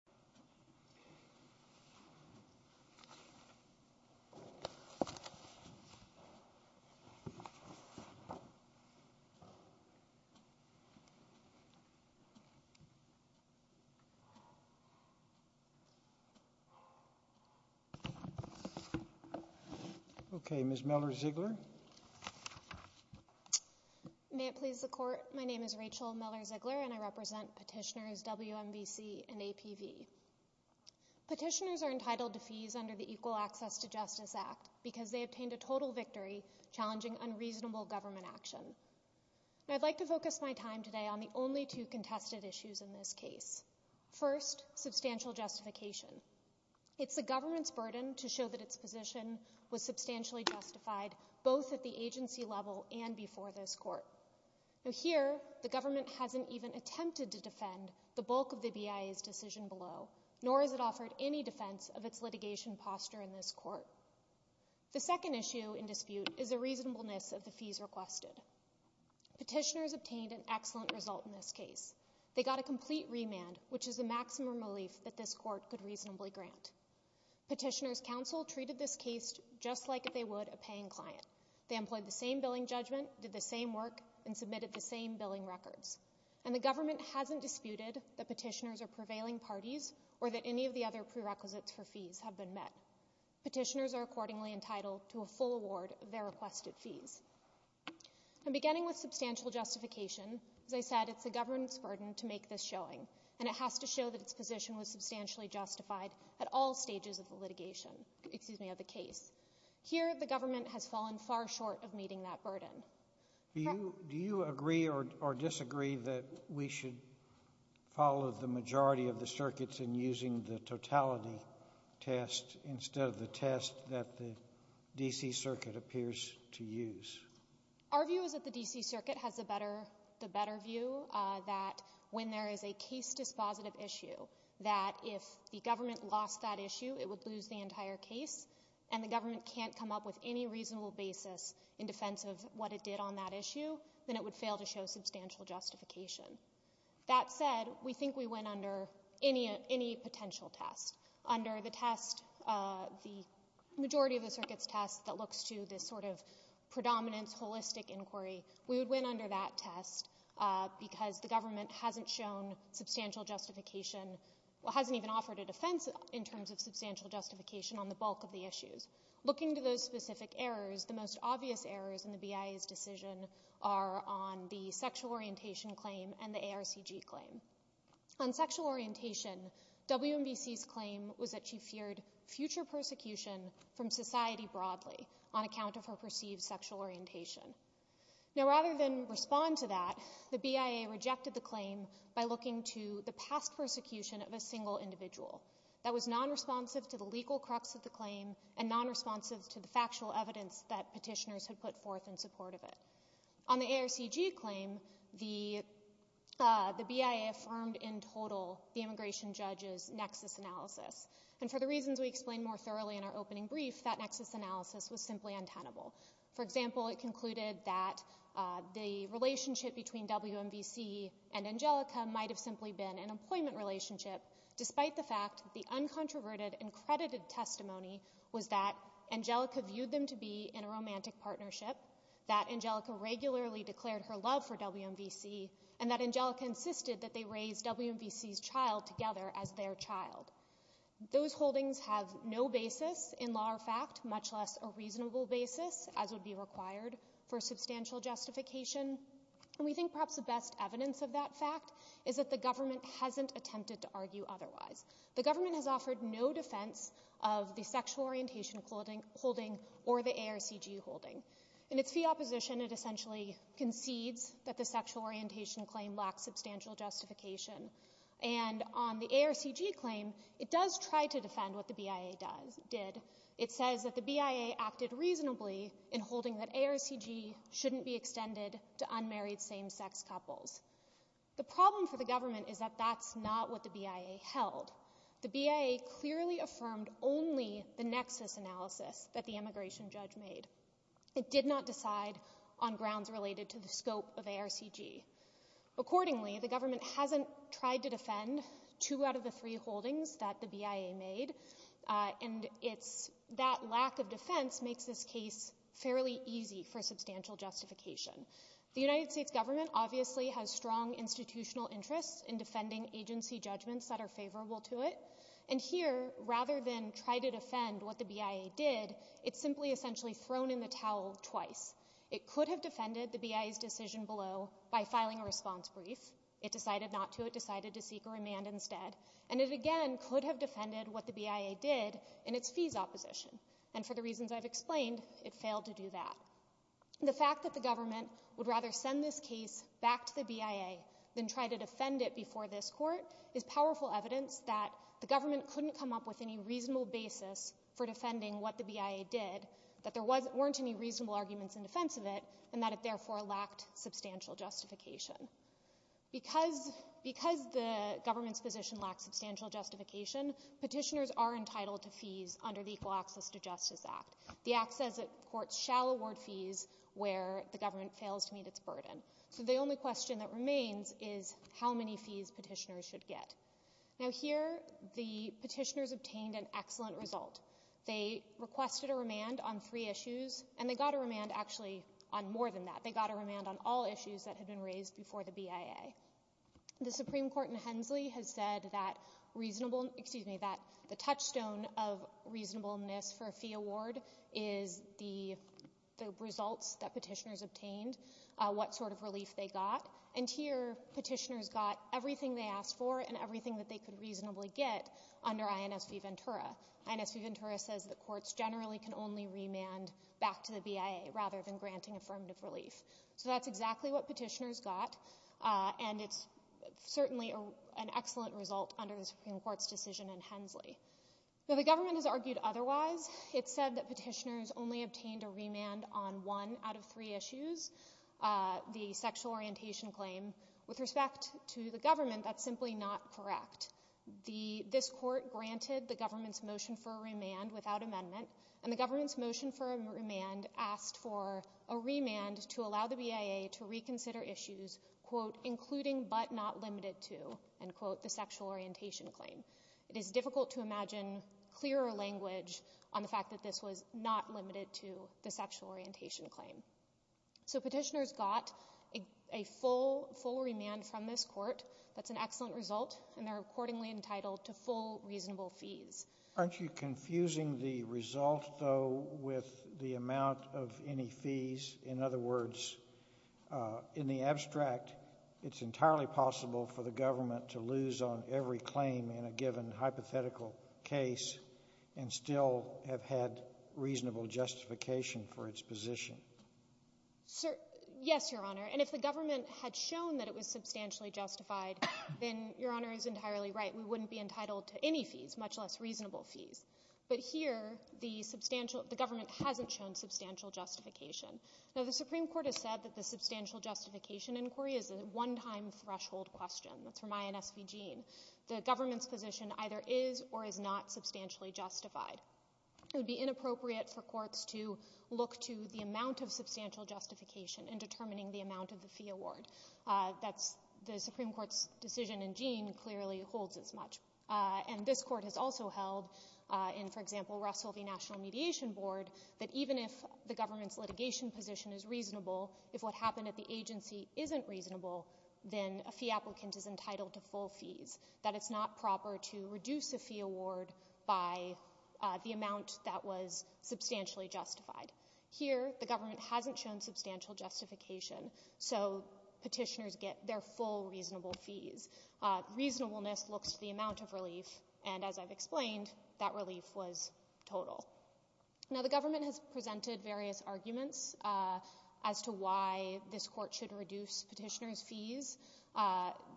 Mr. Coach Simon ok, Miss Miller May it please the court. My name is Rachel Miller Petitioners are entitled to fees under the Equal Access to Justice Act because they obtained a total victory challenging unreasonable government action I'd like to focus my time today on the only two contested issues in this case. First, substantial justification It's the government's burden to show that its position was substantially justified both at the agency level and before this court Here, the government hasn't even attempted to defend the bulk of the law, nor has it offered any defense of its litigation posture in this court The second issue in dispute is the reasonableness of the fees requested. Petitioners obtained an excellent result in this case They got a complete remand, which is the maximum relief that this court could reasonably grant. Petitioners' counsel treated this case just like they would a paying client. They employed the same billing judgment, did the same work, and submitted the same billing records. And the government hasn't disputed that petitioners are prevailing parties or that any of the other prerequisites for fees have been met. Petitioners are accordingly entitled to a full award of their requested fees. And beginning with substantial justification as I said, it's the government's burden to make this showing, and it has to show that its position was substantially justified at all stages of the litigation excuse me, of the case. Here, the government has fallen far short of meeting that burden. Do you agree or disagree that we should follow the majority of the circuits in using the totality test instead of the test that the D.C. Circuit appears to use? Our view is that the D.C. Circuit has the better view that when there is a case dispositive issue, that if the government lost that issue, it would lose the entire case, and the government can't come up with any reasonable basis in defense of what it did on that issue then it would fail to show substantial justification. That said we think we went under any potential test. Under the test the majority of the circuits test that looks to this sort of predominance holistic inquiry, we would win under that test because the government hasn't shown substantial justification hasn't even offered a defense in terms of substantial justification on the bulk of the issues. Looking to those specific errors, the most obvious errors in the BIA's decision are on the sexual orientation claim and the ARCG claim. On sexual orientation WMBC's claim was that she feared future persecution from society broadly on account of her perceived sexual orientation. Now rather than respond to that, the BIA rejected the claim by looking to the past persecution of a single individual that was non-responsive to the legal crux of the claim and non-responsive to the truth in support of it. On the ARCG claim, the BIA affirmed in total the immigration judge's nexus analysis, and for the reasons we explained more thoroughly in our opening brief that nexus analysis was simply untenable. For example, it concluded that the relationship between WMBC and Angelica might have simply been an employment relationship despite the fact that the uncontroverted and credited testimony was that Angelica viewed them to be in a romantic partnership, that Angelica regularly declared her love for WMBC, and that Angelica insisted that they raise WMBC's child together as their child. Those holdings have no basis in law or fact, much less a reasonable basis as would be required for substantial justification, and we think perhaps the best evidence of that fact is that the government hasn't attempted to argue otherwise. The government has offered no defense of the sexual orientation claim of the ARCG holding. In its fee opposition, it essentially concedes that the sexual orientation claim lacks substantial justification, and on the ARCG claim, it does try to defend what the BIA did. It says that the BIA acted reasonably in holding that ARCG shouldn't be extended to unmarried same-sex couples. The problem for the government is that that's not what the BIA held. The BIA clearly affirmed only the decision that the immigration judge made. It did not decide on grounds related to the scope of ARCG. Accordingly, the government hasn't tried to defend two out of the three holdings that the BIA made, and that lack of defense makes this case fairly easy for substantial justification. The United States government obviously has strong institutional interests in defending agency judgments that are favorable to it, and here, rather than try to defend it, it's simply essentially thrown in the towel twice. It could have defended the BIA's decision below by filing a response brief. It decided not to. It decided to seek a remand instead, and it again could have defended what the BIA did in its fees opposition, and for the reasons I've explained, it failed to do that. The fact that the government would rather send this case back to the BIA than try to defend it before this court is powerful evidence that the government couldn't come up with any reasonable basis for defending what the BIA did, that there weren't any reasonable arguments in defense of it, and that it therefore lacked substantial justification. Because the government's position lacks substantial justification, petitioners are entitled to fees under the Equal Access to Justice Act. The Act says that courts shall award fees where the government fails to meet its burden. So the only question that remains is how many fees petitioners should get. Now here, the petitioners obtained an excellent result. They requested a remand on three issues, and they got a remand actually on more than that. They got a remand on all issues that had been raised before the BIA. The Supreme Court in Hensley has said that the touchstone of reasonableness for a fee award is the results that petitioners obtained, what sort of relief they got. And here, petitioners got everything they asked for and everything that they could reasonably get under INSV Ventura. INSV Ventura says that courts generally can only remand back to the BIA rather than granting affirmative relief. So that's exactly what petitioners got, and it's certainly an excellent result under the Supreme Court's decision in Hensley. Though the government has argued otherwise, it said that petitioners only obtained a remand on one out of three issues, the sexual orientation claim. With respect to the government, that's simply not correct. This court granted the government's motion for a remand without amendment, and the government's motion for a remand asked for a remand to allow the BIA to reconsider issues, quote, including but not limited to, end quote, the sexual orientation claim. It is difficult to imagine clearer language on the fact that this was not limited to the sexual orientation claim. So petitioners got a full remand from this court. That's an excellent result, and they're accordingly entitled to full reasonable fees. Aren't you confusing the result, though, with the amount of any fees? In other words, in the abstract, it's entirely possible for the government to lose on every claim in a given hypothetical case and still have had reasonable justification for its position. Yes, Your Honor, and if the government had shown that it was substantially justified, then Your Honor is entirely right. We wouldn't be entitled to any fees, much less reasonable fees. But here, the government hasn't shown substantial justification. Now, the Supreme Court has said that the substantial justification inquiry is a one-time threshold question. That's from INS Vegene. The government's position either is or is not substantially justified. It would be inappropriate for courts to look to the amount of substantial justification in determining the amount of the fee award. The Supreme Court's decision in Vegene clearly holds as much. And this court has also held in, for example, Russell v. National Mediation Board, that even if the government's litigation position is reasonable, if what happened at the agency isn't reasonable, then a fee applicant is entitled to full fees. That it's not proper to reduce a fee award by the amount that was substantially justified. Here, the government hasn't shown substantial justification, so petitioners get their full reasonable fees. Reasonableness looks to the amount of relief, and as I've explained, that relief was total. Now, the government has presented various arguments as to why this court should reduce petitioners' fees,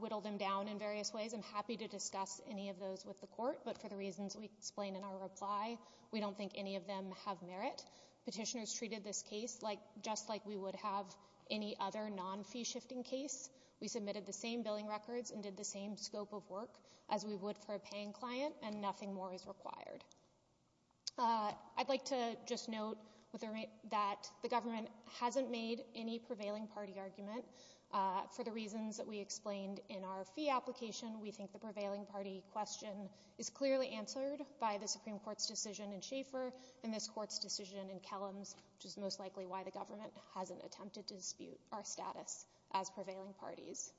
whittle them down in various ways. I'm happy to share the reasons we explain in our reply. We don't think any of them have merit. Petitioners treated this case just like we would have any other non-fee-shifting case. We submitted the same billing records and did the same scope of work as we would for a paying client, and nothing more is required. I'd like to just note that the government hasn't made any prevailing party argument for the reasons that we explained in our fee application. We think the prevailing party question is clearly answered by the Supreme Court's decision in Schaeffer and this court's decision in Kellams, which is most likely why the government hasn't attempted to dispute our status as prevailing parties.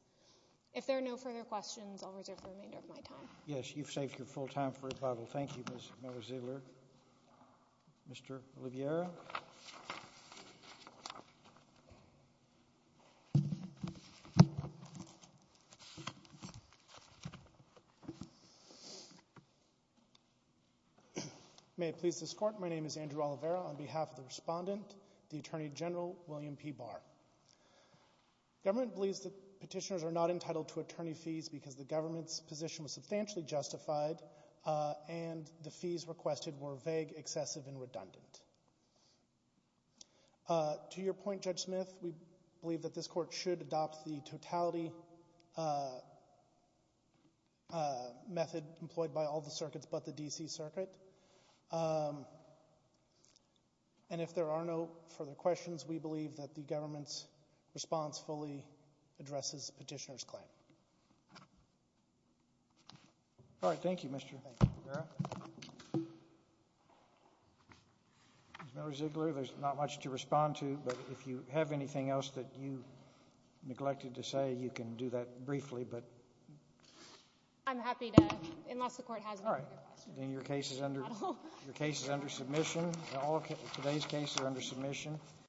If there are no further questions, I'll reserve the remainder of my time. Yes, you've saved your full time for rebuttal. Thank you, Ms. Mozilla. Mr. Oliveira? May it please this court, my name is Andrew Oliveira. On behalf of the respondent, the Attorney General William P. Barr. Government believes that petitioners are not entitled to attorney fees because the government's position was substantially justified and the fees requested were vague, excessive, and redundant. To your point, Judge Smith, we believe that this court should adopt the totality method employed by all the circuits but the D.C. Circuit. And if there are no further questions, we believe that the government's response fully addresses the petitioner's claim. All right, thank you, Mr. Oliveira. Mr. Ziegler, there's not much to respond to, but if you have anything else that you can do that briefly. Your case is under submission. All today's cases are under submission.